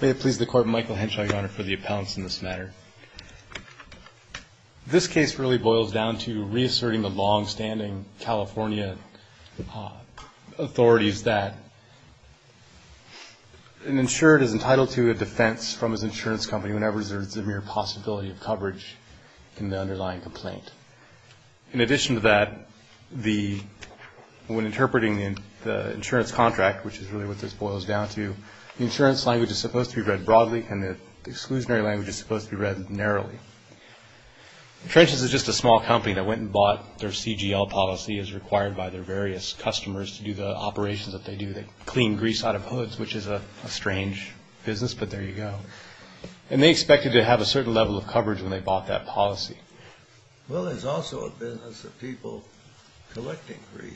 May it please the Court, Michael Henshaw, Your Honor, for the appellants in this matter. This case really boils down to reasserting the long-standing California authorities that an insured is entitled to a defense from his insurance company whenever there is a mere possibility of coverage in the underlying complaint. In addition to that, when interpreting the insurance contract, which is really what this boils down to, the insurance language is supposed to be read broadly and the exclusionary language is supposed to be read narrowly. Trenches is just a small company that went and bought their CGL policy as required by their various customers to do the operations that they do. They clean grease out of hoods, which is a strange business, but there you go. And they expected to have a certain level of coverage when they bought that policy. Well, there's also a business of people collecting grease.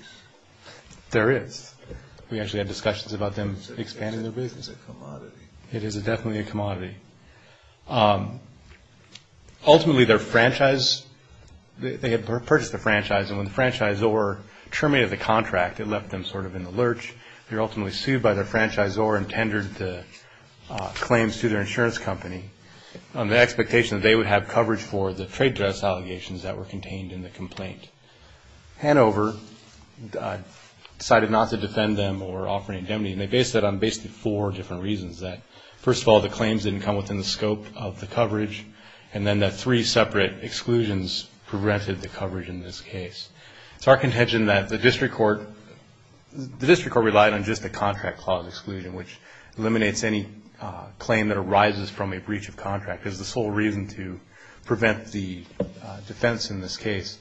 There is. We actually had discussions about them expanding their business. It's a commodity. It is definitely a commodity. Ultimately, their franchise, they had purchased the franchise and when the franchisor terminated the contract, it left them sort of in the lurch. They were ultimately sued by their franchisor and tendered the claims to their insurance company on the expectation that they would have coverage for the trade dress allegations that were contained in the complaint. Hanover decided not to defend them or offer indemnity, and they based that on basically four different reasons. First of all, the claims didn't come within the scope of the coverage, and then the three separate exclusions prevented the coverage in this case. It's our contention that the district court relied on just the contract clause exclusion, which eliminates any claim that arises from a breach of contract as the sole reason to prevent the defense in this case.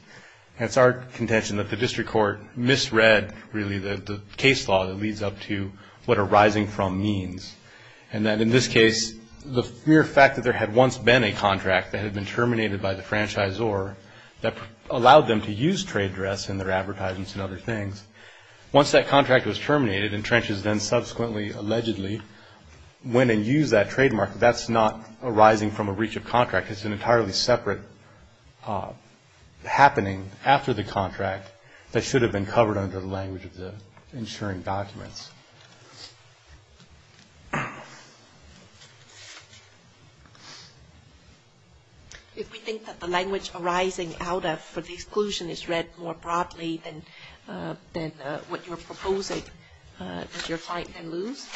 And it's our contention that the district court misread really the case law that leads up to what arising from means, and that in this case, the mere fact that there had once been a contract that had been terminated by the franchisor that allowed them to use trade dress in their advertisements and other things, once that contract was terminated and trenches then subsequently allegedly went and used that trademark, that's not arising from a breach of contract. It's an entirely separate happening after the contract that should have been covered under the language of the insuring documents. If we think that the language arising out of the exclusion is read more broadly than what you're proposing, does your client then lose?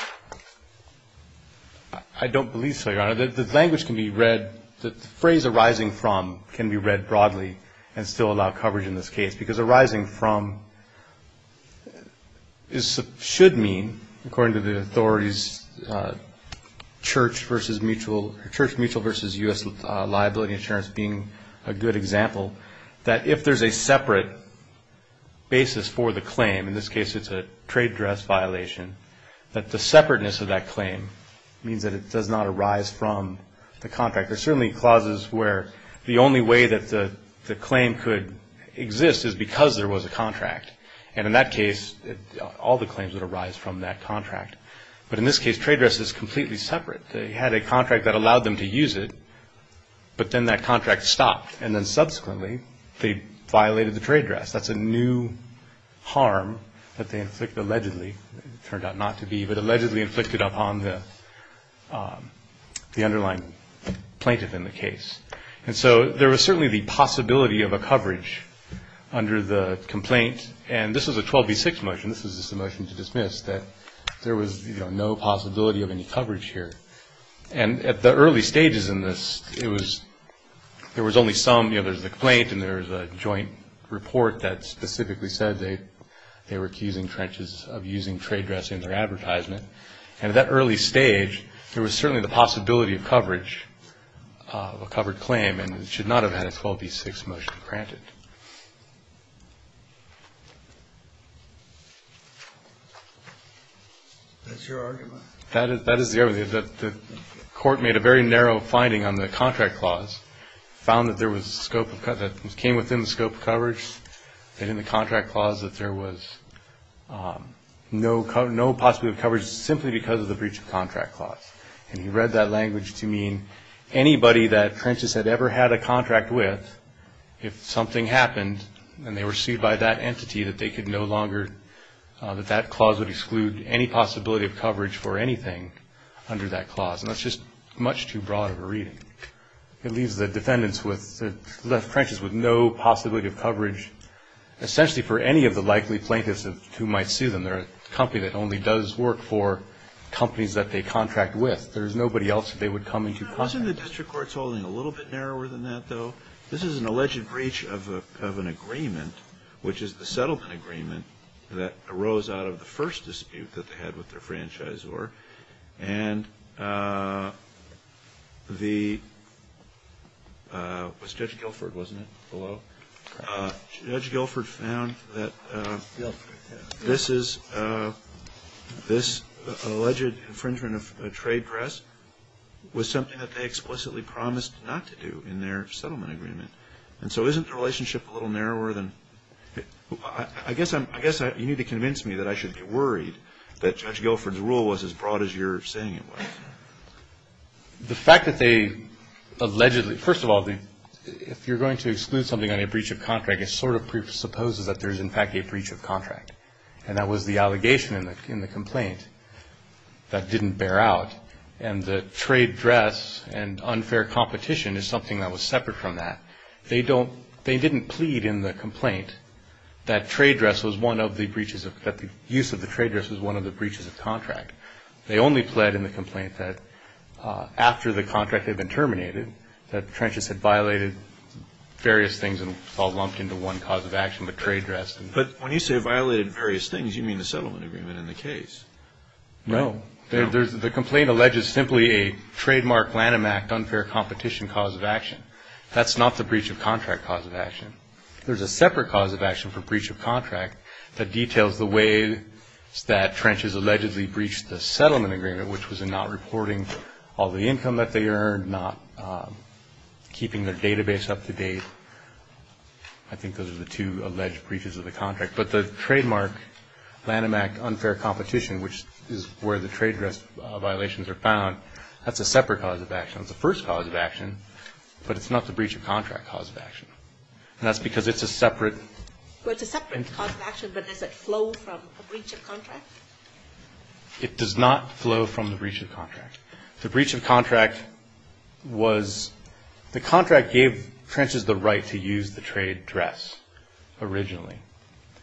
I don't believe so, Your Honor. The language can be read, the phrase arising from can be read broadly and still allow coverage in this case, because arising from should mean, according to the authorities, Church Mutual versus U.S. Liability Insurance being a good example, that if there's a separate basis for the claim, in this case it's a trade dress violation, that the separateness of that claim means that it does not arise from the contract. There's certainly clauses where the only way that the claim could exist is because there was a contract, and in that case, all the claims would arise from that contract. But in this case, trade dress is completely separate. They had a contract that allowed them to use it, but then that contract stopped, and then subsequently they violated the trade dress. That's a new harm that they inflicted, allegedly. It turned out not to be, but allegedly inflicted upon the underlying plaintiff in the case. And so there was certainly the possibility of a coverage under the complaint, and this was a 12b-6 motion. This was just a motion to dismiss that there was, you know, no possibility of any coverage here. And at the early stages in this, it was, there was only some, you know, there's the complaint and there's a joint report that specifically said they were accusing Trenches of using trade dress in their advertisement. And at that early stage, there was certainly the possibility of coverage, of a covered claim, and it should not have had a 12b-6 motion granted. That's your argument? That is the argument. The court made a very narrow finding on the contract clause, found that there was a scope of coverage that came within the scope of coverage, and in the contract clause that there was no possibility of coverage simply because of the breach of contract clause. And he read that language to mean anybody that Trenches had ever had a contract with, if something happened and they were sued by that entity, that they could no longer, that that clause would exclude any possibility of coverage for anything under that clause. And that's just much too broad of a reading. It leaves the defendants with, left Trenches with no possibility of coverage, essentially for any of the likely plaintiffs who might sue them. They're a company that only does work for companies that they contract with. There's nobody else that they would come into contact with. Wasn't the district court's holding a little bit narrower than that, though? This is an alleged breach of an agreement, which is the settlement agreement that arose out of the first dispute that they had with their franchisor. And the, it was Judge Guilford, wasn't it, below? Judge Guilford found that this alleged infringement of trade dress was something that they explicitly promised not to do in their settlement agreement. And so isn't the relationship a little narrower than, I guess I'm, I guess you need to convince me that I should be worried that Judge Guilford's rule was as broad as you're saying it was. The fact that they allegedly, first of all, if you're going to exclude something on a breach of contract, it sort of presupposes that there's, in fact, a breach of contract. And that was the allegation in the complaint that didn't bear out. And the trade dress and unfair competition is something that was separate from that. They don't, they didn't plead in the complaint that trade dress was one of the breaches of, that the use of the trade dress was one of the breaches of contract. They only pled in the complaint that after the contract had been terminated, that the trenches had violated various things and all lumped into one cause of action with trade dress. But when you say violated various things, you mean the settlement agreement in the case. No. The complaint alleges simply a trademark Lanham Act unfair competition cause of action. That's not the breach of contract cause of action. There's a separate cause of action for breach of contract that details the way that trenches allegedly breached the settlement agreement, which was in not reporting all the income that they earned, not keeping their database up to date. I think those are the two alleged breaches of the contract. But the trademark Lanham Act unfair competition, which is where the trade dress violations are found, that's a separate cause of action. It's the first cause of action. But it's not the breach of contract cause of action. And that's because it's a separate. Well, it's a separate cause of action, but does it flow from a breach of contract? It does not flow from the breach of contract. The breach of contract was the contract gave trenches the right to use the trade dress originally.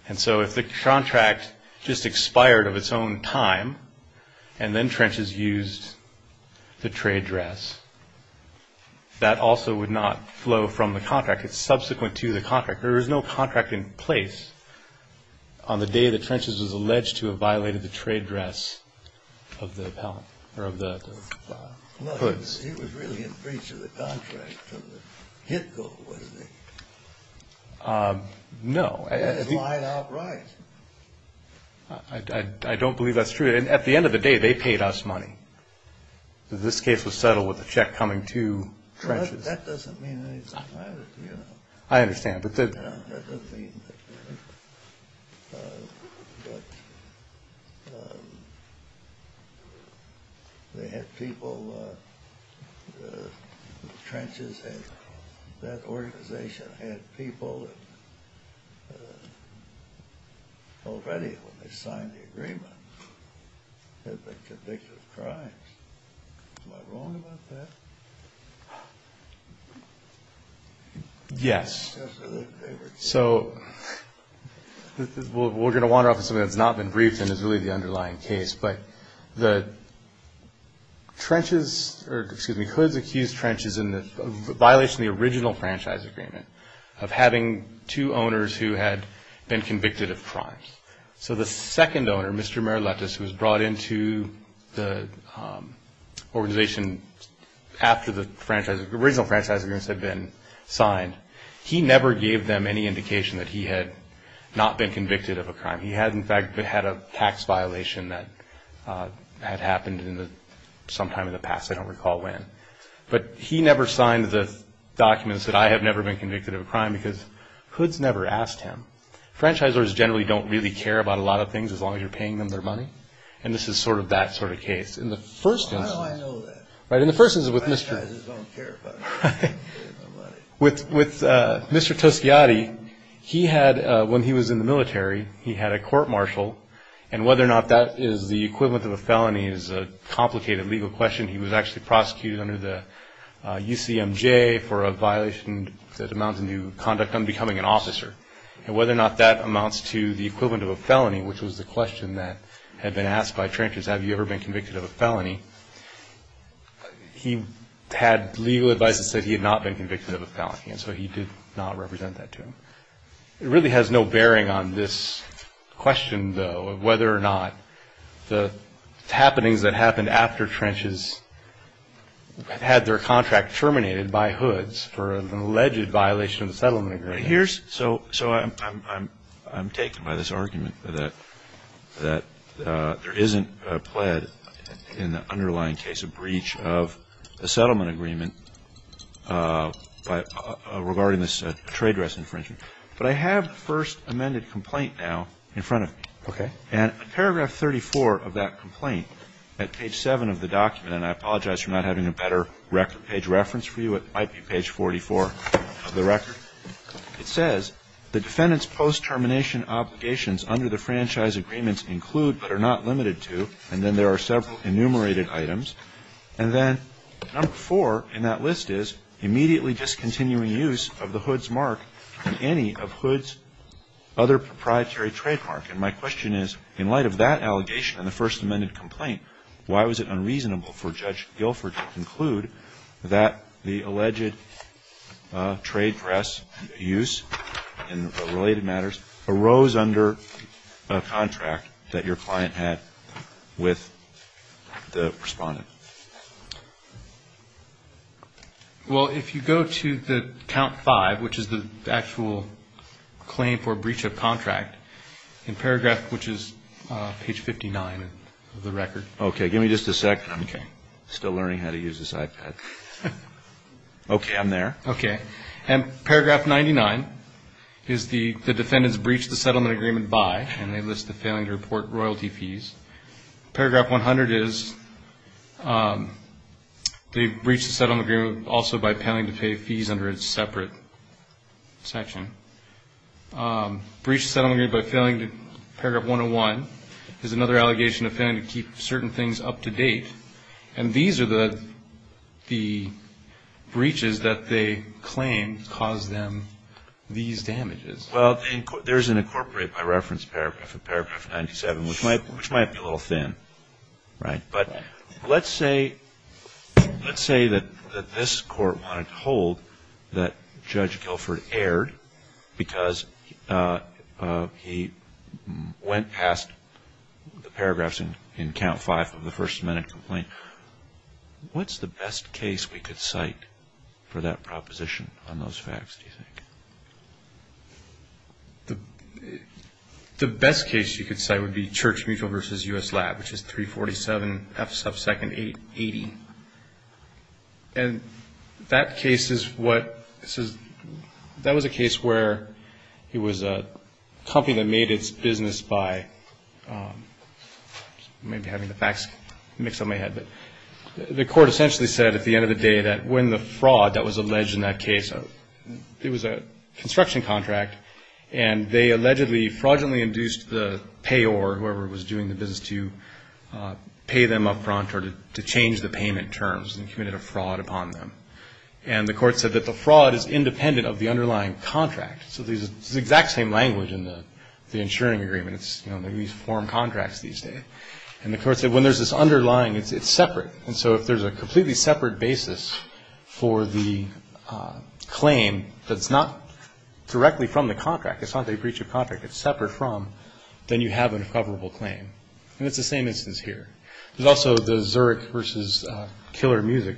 And so if the contract just expired of its own time and then trenches used the trade dress, that also would not flow from the contract. It's subsequent to the contract. There is no contract in place on the day the trenches was alleged to have violated the trade dress of the appellant or of the hoods. He was really in breach of the contract from the get-go, wasn't he? No. That is lying outright. I don't believe that's true. And at the end of the day, they paid us money. This case was settled with a check coming to trenches. That doesn't mean anything. I understand. No, that doesn't mean anything. But they had people, trenches had, that organization had people that already when they signed the agreement had been convicted of crimes. Am I wrong about that? Yes. So we're going to wander off to something that's not been briefed and is really the underlying case. But the trenches, or excuse me, hoods accused trenches in violation of the original franchise agreement of having two owners who had been convicted of crimes. So the second owner, Mr. Merletus, who was brought into the organization after the franchise, the original franchise agreements had been signed, he never gave them any indication that he had not been convicted of a crime. He had, in fact, had a tax violation that had happened sometime in the past. I don't recall when. But he never signed the documents that I have never been convicted of a crime because hoods never asked him. Franchisors generally don't really care about a lot of things as long as you're paying them their money. And this is sort of that sort of case. How do I know that? Franchisors don't care about it. With Mr. Tosciatti, he had, when he was in the military, he had a court-martial. And whether or not that is the equivalent of a felony is a complicated legal question. He was actually prosecuted under the UCMJ for a violation that amounts to conduct unbecoming an officer. And whether or not that amounts to the equivalent of a felony, which was the question that had been asked by Franchis, have you ever been convicted of a felony, he had legal advice that said he had not been convicted of a felony. And so he did not represent that to him. It really has no bearing on this question, though, of whether or not the happenings that happened after Franchis had their contract terminated by hoods for an alleged violation of the settlement agreement. So I'm taken by this argument that there isn't a pled in the underlying case of breach of a settlement agreement regarding this trade dress infringement. But I have the first amended complaint now in front of me. Okay. And paragraph 34 of that complaint at page 7 of the document, and I apologize for not having a better record page reference for you. It might be page 44 of the record. It says the defendant's post-termination obligations under the franchise agreements include but are not limited to, and then there are several enumerated items. And then number four in that list is immediately discontinuing use of the hoods mark in any of hoods other proprietary trademark. And my question is, in light of that allegation in the first amended complaint, why was it unreasonable for Judge Guilford to conclude that the alleged trade dress use in related matters arose under a contract that your client had with the respondent? Well, if you go to the count five, which is the actual claim for breach of contract, in paragraph, which is page 59 of the record. Okay. Give me just a second. I'm still learning how to use this iPad. Okay. I'm there. Okay. And paragraph 99 is the defendant's breach of the settlement agreement by, and they list the failing to report royalty fees. Paragraph 100 is they breached the settlement agreement also by failing to pay fees under a separate section. Breach of settlement agreement by failing to, paragraph 101, is another allegation of failing to keep certain things up to date. And these are the breaches that they claim caused them these damages. Well, there's an incorporated by reference paragraph, paragraph 97, which might be a little thin. Right. But let's say that this court wanted to hold that Judge Guilford erred because he went past the paragraphs in count five of the First Amendment complaint. What's the best case we could cite for that proposition on those facts, do you think? The best case you could cite would be Church Mutual v. U.S. Lab, which is 347F280. And that case is what, that was a case where it was a company that made its business by, maybe having the facts mixed up in my head, but the court essentially said at the end of the day that when the fraud that was alleged in that case, it was a construction contract, and they allegedly fraudulently induced the payor, whoever was doing the business, to pay them up front or to change the payment terms and committed a fraud upon them. And the court said that the fraud is independent of the underlying contract. So it's the exact same language in the insuring agreement. It's, you know, maybe these form contracts these days. And the court said when there's this underlying, it's separate. And so if there's a completely separate basis for the claim that's not directly from the contract, it's not a breach of contract, it's separate from, then you have an unfavorable claim. And it's the same instance here. There's also the Zurich v. Killer Music.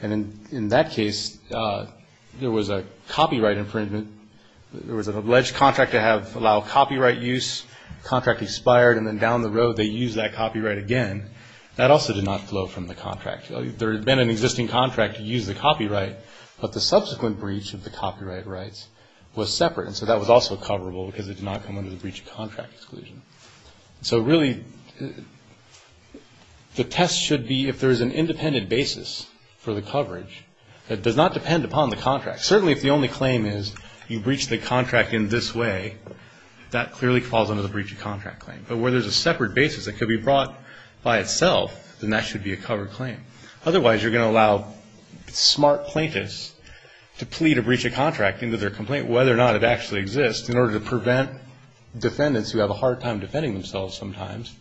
And in that case, there was a copyright infringement. There was an alleged contract to allow copyright use. The contract expired, and then down the road they used that copyright again. That also did not flow from the contract. There had been an existing contract to use the copyright, but the subsequent breach of the copyright rights was separate, and so that was also coverable because it did not come under the breach of contract exclusion. So really, the test should be if there is an independent basis for the coverage that does not depend upon the contract. Certainly if the only claim is you breached the contract in this way, that clearly falls under the breach of contract claim. But where there's a separate basis that could be brought by itself, then that should be a covered claim. Otherwise, you're going to allow smart plaintiffs to plead a breach of contract into their complaint, whether or not it actually exists, in order to prevent defendants who have a hard time defending themselves sometimes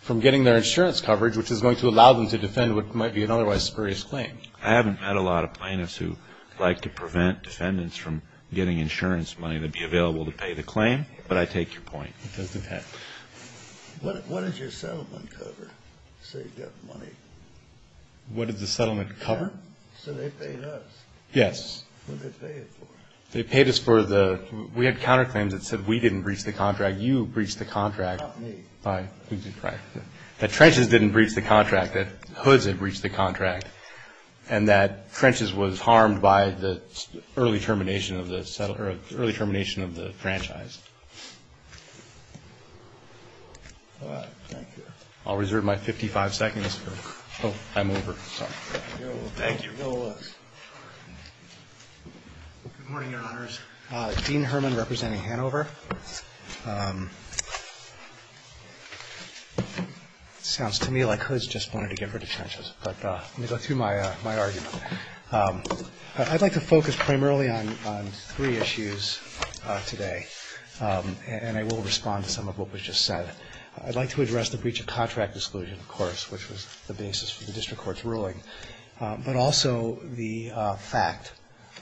from getting their insurance coverage, which is going to allow them to defend what might be an otherwise spurious claim. I haven't met a lot of plaintiffs who like to prevent defendants from getting insurance money that would be available to pay the claim, but I take your point. It does depend. What does your settlement cover, so you get the money? What does the settlement cover? So they paid us. Yes. Who did they pay it for? They paid us for the – we had counterclaims that said we didn't breach the contract, you breached the contract. Not me. By Hoods and Fry. That Trenches didn't breach the contract, that Hoods had breached the contract, and that Trenches was harmed by the early termination of the franchise. I'll reserve my 55 seconds. I'm over. Thank you. Good morning, Your Honors. Dean Herman representing Hanover. Sounds to me like Hoods just wanted to get rid of Trenches, but let me go through my argument. I'd like to focus primarily on three issues today, and I will respond to some of what was just said. I'd like to address the breach of contract disclosure, of course, which was the basis for the district court's ruling, but also the fact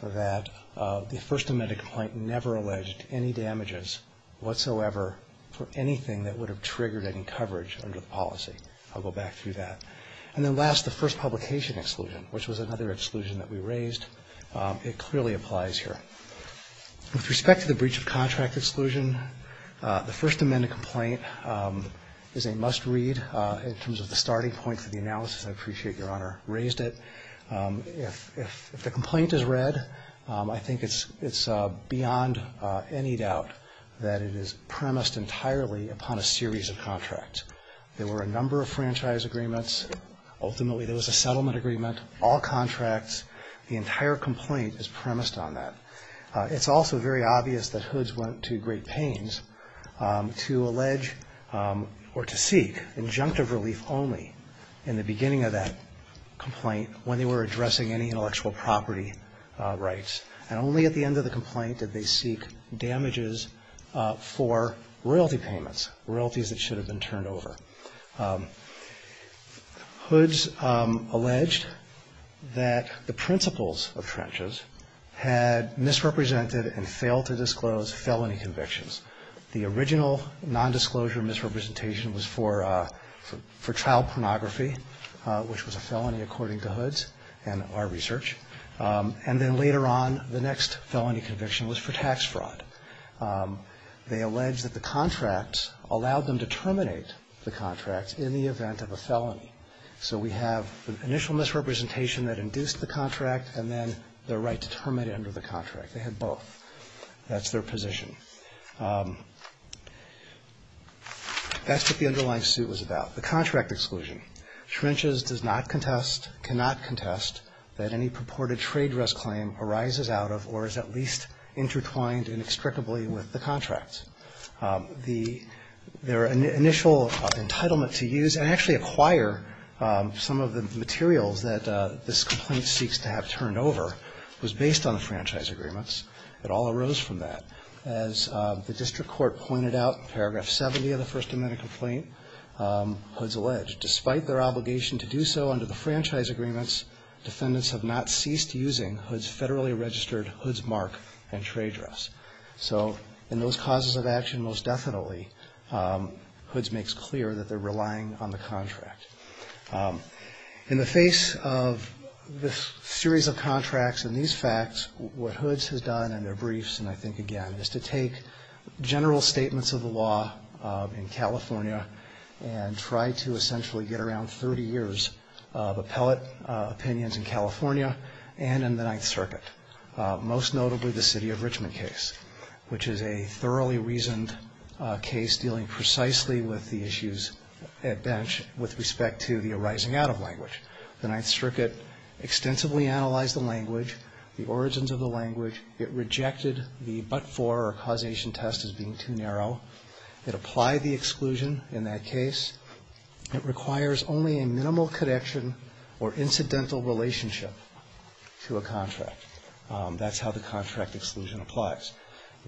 that the First Amendment complaint never alleged any damages whatsoever for anything that would have triggered any coverage under the policy. I'll go back through that. And then last, the first publication exclusion, which was another exclusion that we raised. It clearly applies here. With respect to the breach of contract exclusion, the First Amendment complaint is a must-read in terms of the starting point for the analysis. I appreciate Your Honor raised it. If the complaint is read, I think it's beyond any doubt that it is premised entirely upon a series of contracts. There were a number of franchise agreements. Ultimately, there was a settlement agreement, all contracts. The entire complaint is premised on that. It's also very obvious that Hoods went to great pains to allege, or to seek, injunctive relief only in the beginning of that complaint when they were addressing any intellectual property rights. And only at the end of the complaint did they seek damages for royalty payments, royalties that should have been turned over. Hoods alleged that the principals of trenches had misappropriated the property and misrepresented and failed to disclose felony convictions. The original nondisclosure misrepresentation was for child pornography, which was a felony, according to Hoods and our research. And then later on, the next felony conviction was for tax fraud. They alleged that the contracts allowed them to terminate the contracts in the event of a felony. So we have the initial misrepresentation that induced the contract, and then their right to terminate it under the contract. They had both. That's their position. That's what the underlying suit was about, the contract exclusion. Trenches does not contest, cannot contest that any purported trade risk claim arises out of or is at least intertwined inextricably with the contract. Their initial entitlement to use and actually acquire some of the materials that this complaint seeks to have turned over was based on the franchise agreements. It all arose from that. As the district court pointed out in paragraph 70 of the First Amendment complaint, Hoods alleged, despite their obligation to do so under the franchise agreements, defendants have not ceased using Hoods federally registered Hoods mark and trade dress. So in those causes of action, most definitely, Hoods makes clear that they're relying on the contract. In the face of this series of contracts and these facts, what Hoods has done in their briefs, and I think again, is to take general statements of the law in California and try to essentially get around 30 years of appellate opinions in California and in the Ninth Circuit, most notably the city of Richmond case, which is a thoroughly reasoned case dealing precisely with the issues at bench with respect to the arising out of language. The Ninth Circuit extensively analyzed the language, the origins of the language. It rejected the but-for or causation test as being too narrow. It applied the exclusion in that case. It requires only a minimal connection or incidental relationship to a contract. That's how the contract exclusion applies.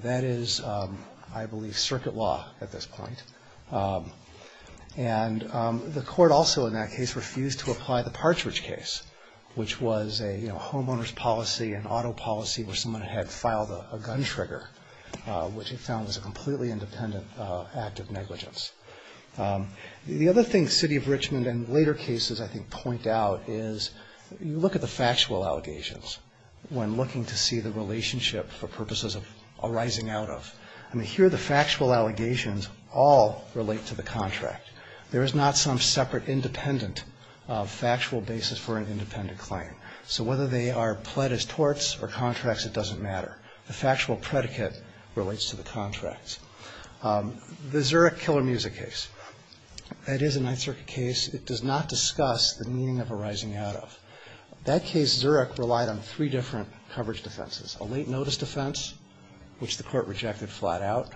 That is, I believe, circuit law at this point. And the court also in that case refused to apply the Partridge case, which was a homeowner's policy, an auto policy where someone had filed a gun trigger, which it found was a completely independent act of negligence. The other thing the city of Richmond in later cases, I think, point out is you look at the factual allegations when looking to see the relationship for purposes of arising out of. I mean, here the factual allegations all relate to the contract. There is not some separate independent factual basis for an independent claim. So whether they are pled as torts or contracts, it doesn't matter. The factual predicate relates to the contracts. The Zurich Killer Music case. That is a Ninth Circuit case. It does not discuss the meaning of arising out of. That case, Zurich, relied on three different coverage defenses, a late notice defense, which the court rejected flat out.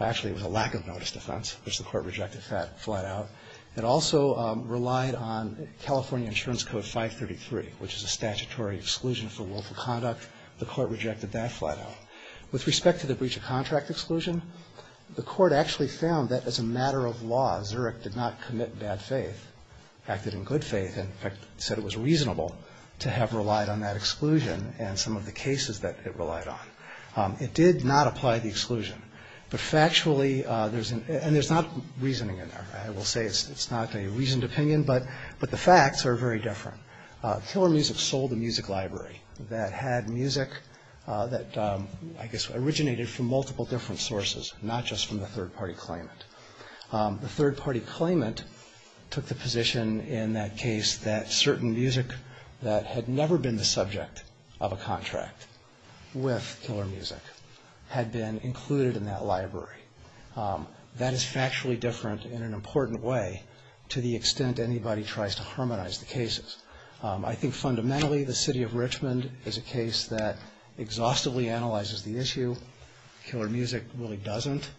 Actually, it was a lack of notice defense, which the court rejected flat out. It also relied on California Insurance Code 533, which is a statutory exclusion for willful conduct. The court rejected that flat out. With respect to the breach of contract exclusion, the court actually found that as a matter of law, Zurich did not commit bad faith, acted in good faith, and, in fact, said it was reasonable to have relied on that exclusion and some of the cases that it relied on. It did not apply the exclusion. But factually, there is an ‑‑ and there is not reasoning in there. I will say it's not a reasoned opinion, but the facts are very different. Killer Music sold a music library that had music that, I guess, originated from multiple different sources, not just from the third party claimant. The third party claimant took the position in that case that certain music that had never been the subject of a contract with Killer Music had been included in that library. That is factually different in an important way to the extent anybody tries to harmonize the cases. I think fundamentally, the City of Richmond is a case that exhaustively analyzes the issue. Killer Music really doesn't.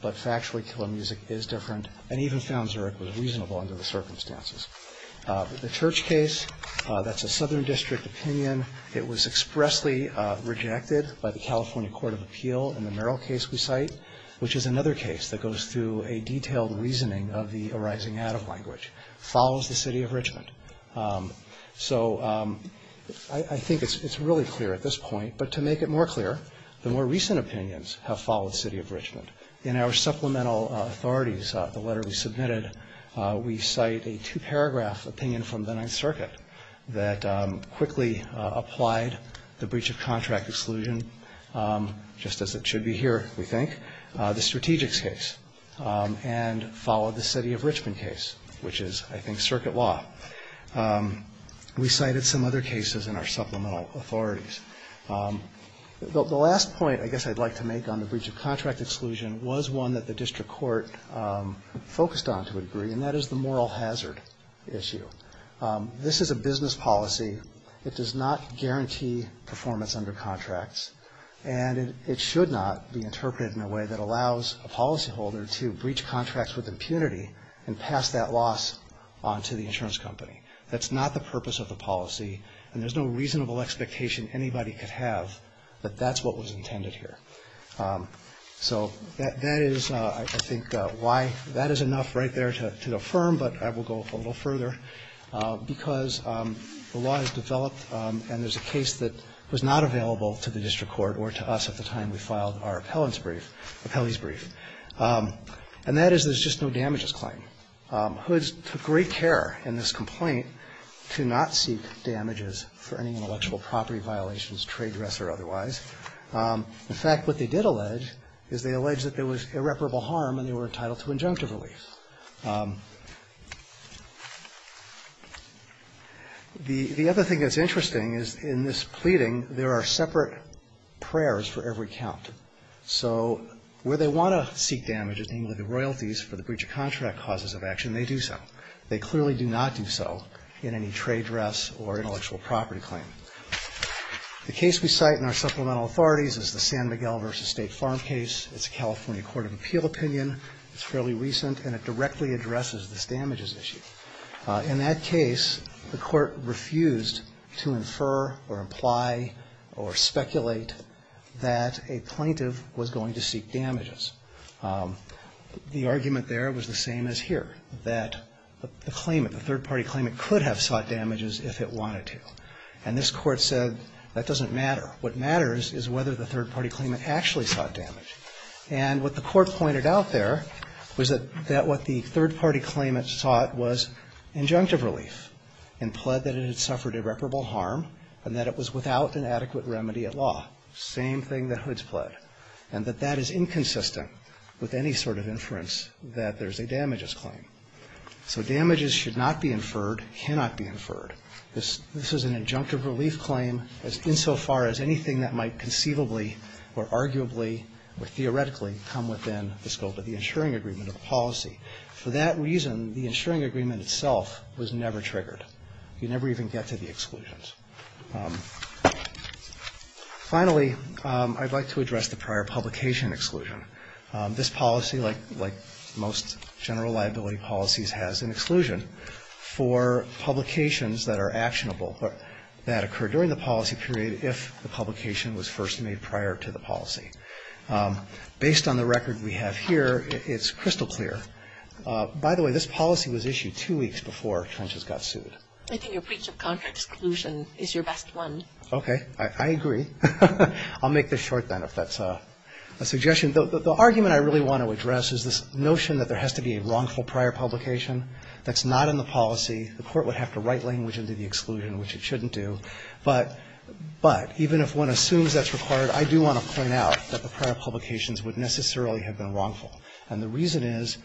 But factually, Killer Music is different and even found Zurich was reasonable under the circumstances. The Church case, that's a Southern District opinion. It was expressly rejected by the California Court of Appeal in the Merrill case we cite, which is another case that goes through a detailed reasoning of the arising out of language. Follows the City of Richmond. So I think it's really clear at this point. But to make it more clear, the more recent opinions have followed the City of Richmond. In our supplemental authorities, the letter we submitted, we cite a two-paragraph opinion from the Ninth Circuit that quickly applied the breach of contract exclusion, just as it should be here, we think, the strategics case, and followed the City of Richmond case, which is, I think, circuit law. We cited some other cases in our supplemental authorities. The last point, I guess, I'd like to make on the breach of contract exclusion was one that the District Court focused on to a degree, and that is the moral hazard issue. This is a business policy. It does not guarantee performance under contracts, and it should not be interpreted in a way that allows a policyholder to breach contracts with impunity and pass that loss on to the insurance company. That's not the purpose of the policy, and there's no reasonable expectation anybody could have that that's what was intended here. So that is, I think, why that is enough right there to affirm, but I will go a little further, because the law has developed and there's a case that was not available to the District Court or to us at the time we filed our appellant's brief, appellee's brief, and that is there's just no damages claim. Hoods took great care in this complaint to not seek damages for any intellectual property violations, trade risks or otherwise. In fact, what they did allege is they alleged that there was irreparable harm and they were entitled to injunctive relief. The other thing that's interesting is in this pleading, there are separate prayers for every count. So where they want to seek damages, namely the royalties for the breach of contract causes of action, they do so. They clearly do not do so in any trade risks or intellectual property claim. The case we cite in our supplemental authorities is the San Miguel v. State Farm case. It's a California court of appeal opinion. It's fairly recent and it directly addresses this damages issue. In that case, the court refused to infer or imply or speculate that a plaintiff was going to seek damages. The argument there was the same as here, that the claimant, the third-party claimant, could have sought damages if it wanted to. And this court said that doesn't matter. What matters is whether the third-party claimant actually sought damage. And what the court pointed out there was that what the third-party claimant sought was injunctive relief and pled that it had suffered irreparable harm and that it was without an adequate remedy at law. Same thing that Hood's pled, and that that is inconsistent with any sort of inference that there's a damages claim. So damages should not be inferred, cannot be inferred. This is an injunctive relief claim insofar as anything that might conceivably or arguably or theoretically come within the scope of the insuring agreement or policy. For that reason, the insuring agreement itself was never triggered. You never even get to the exclusions. Finally, I'd like to address the prior publication exclusion. This policy, like most general liability policies, has an exclusion for publications that are actionable that occur during the policy period if the publication was first made prior to the policy. Based on the record we have here, it's crystal clear. By the way, this policy was issued two weeks before Trenches got sued. I think your breach of contract exclusion is your best one. Okay. I agree. I'll make this short then if that's a suggestion. The argument I really want to address is this notion that there has to be a wrongful prior publication that's not in the policy. The court would have to write language into the exclusion, which it shouldn't do. But even if one assumes that's required, I do want to point out that the prior publications would necessarily have been wrongful. And the reason is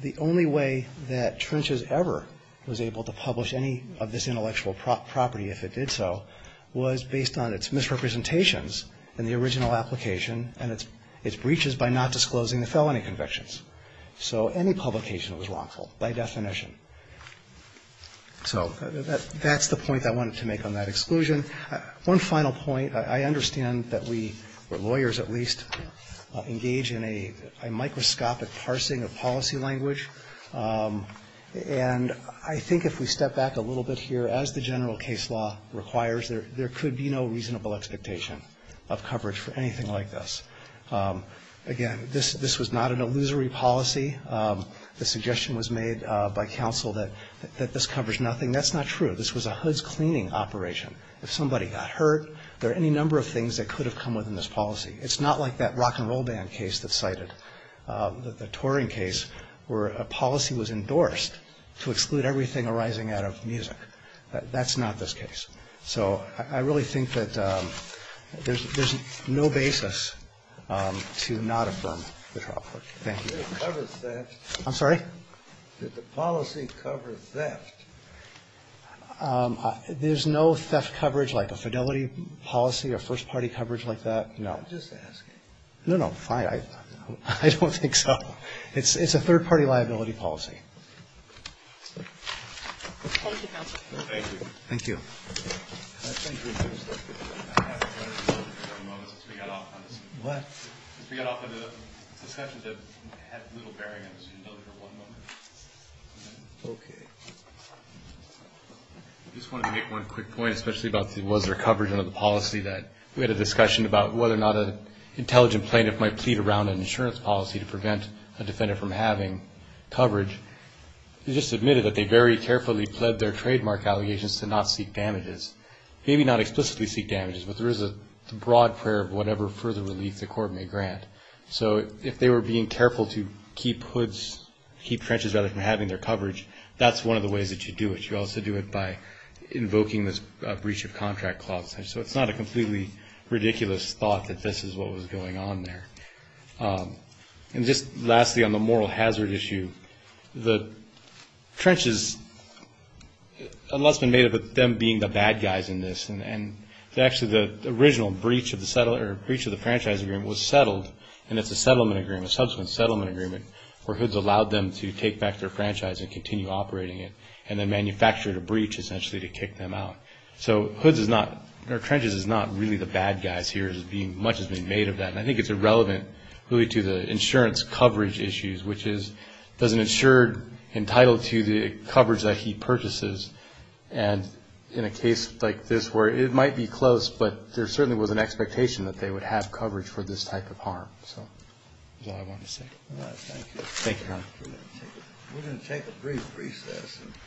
the only way that Trenches ever was able to publish any of this intellectual property if it did so was based on its misrepresentations in the original application and its breaches by not disclosing the felony convictions. So any publication was wrongful by definition. So that's the point I wanted to make on that exclusion. One final point. I understand that we, we're lawyers at least, engage in a microscopic parsing of policy language. And I think if we step back a little bit here, as the general case law requires, there could be no reasonable expectation of coverage for anything like this. Again, this was not an illusory policy. The suggestion was made by counsel that this covers nothing. That's not true. This was a hoods-cleaning operation. If somebody got hurt, there are any number of things that could have come within this policy. It's not like that rock and roll band case that's cited, the touring case, where a policy was endorsed to exclude everything arising out of music. That's not this case. So I really think that there's no basis to not affirm the trial court. Thank you. Did it cover theft? I'm sorry? Did the policy cover theft? There's no theft coverage like a fidelity policy or first-party coverage like that. No. I'm just asking. No, no. Fine. I don't think so. It's a third-party liability policy. Thank you. Thank you. I just wanted to make one quick point, especially about was there coverage under the policy that we had a discussion about whether or not an intelligent plaintiff might plead around an insurance policy to prevent a defendant from having coverage. They just admitted that they very carefully pled their trademark allegations to not seek damages. Maybe not explicitly seek damages, but there is a broad prayer of whatever further relief the court may grant. So if they were being careful to keep hoods, keep trenches rather than having their coverage, that's one of the ways that you do it. You also do it by invoking this breach of contract clause. So it's not a completely ridiculous thought that this is what was going on there. And just lastly, on the moral hazard issue, the trenches, a lot's been made up of them being the bad guys in this. And actually the original breach of the franchise agreement was settled, and it's a settlement agreement, a subsequent settlement agreement, where hoods allowed them to take back their franchise and continue operating it, and then manufactured a breach essentially to kick them out. So hoods is not, or trenches is not really the bad guys here. As being much has been made of that. And I think it's irrelevant really to the insurance coverage issues, which is does an in a case like this where it might be close, but there certainly was an expectation that they would have coverage for this type of harm. So that's all I wanted to say. Thank you. Thank you, Your Honor. We're going to take a brief recess.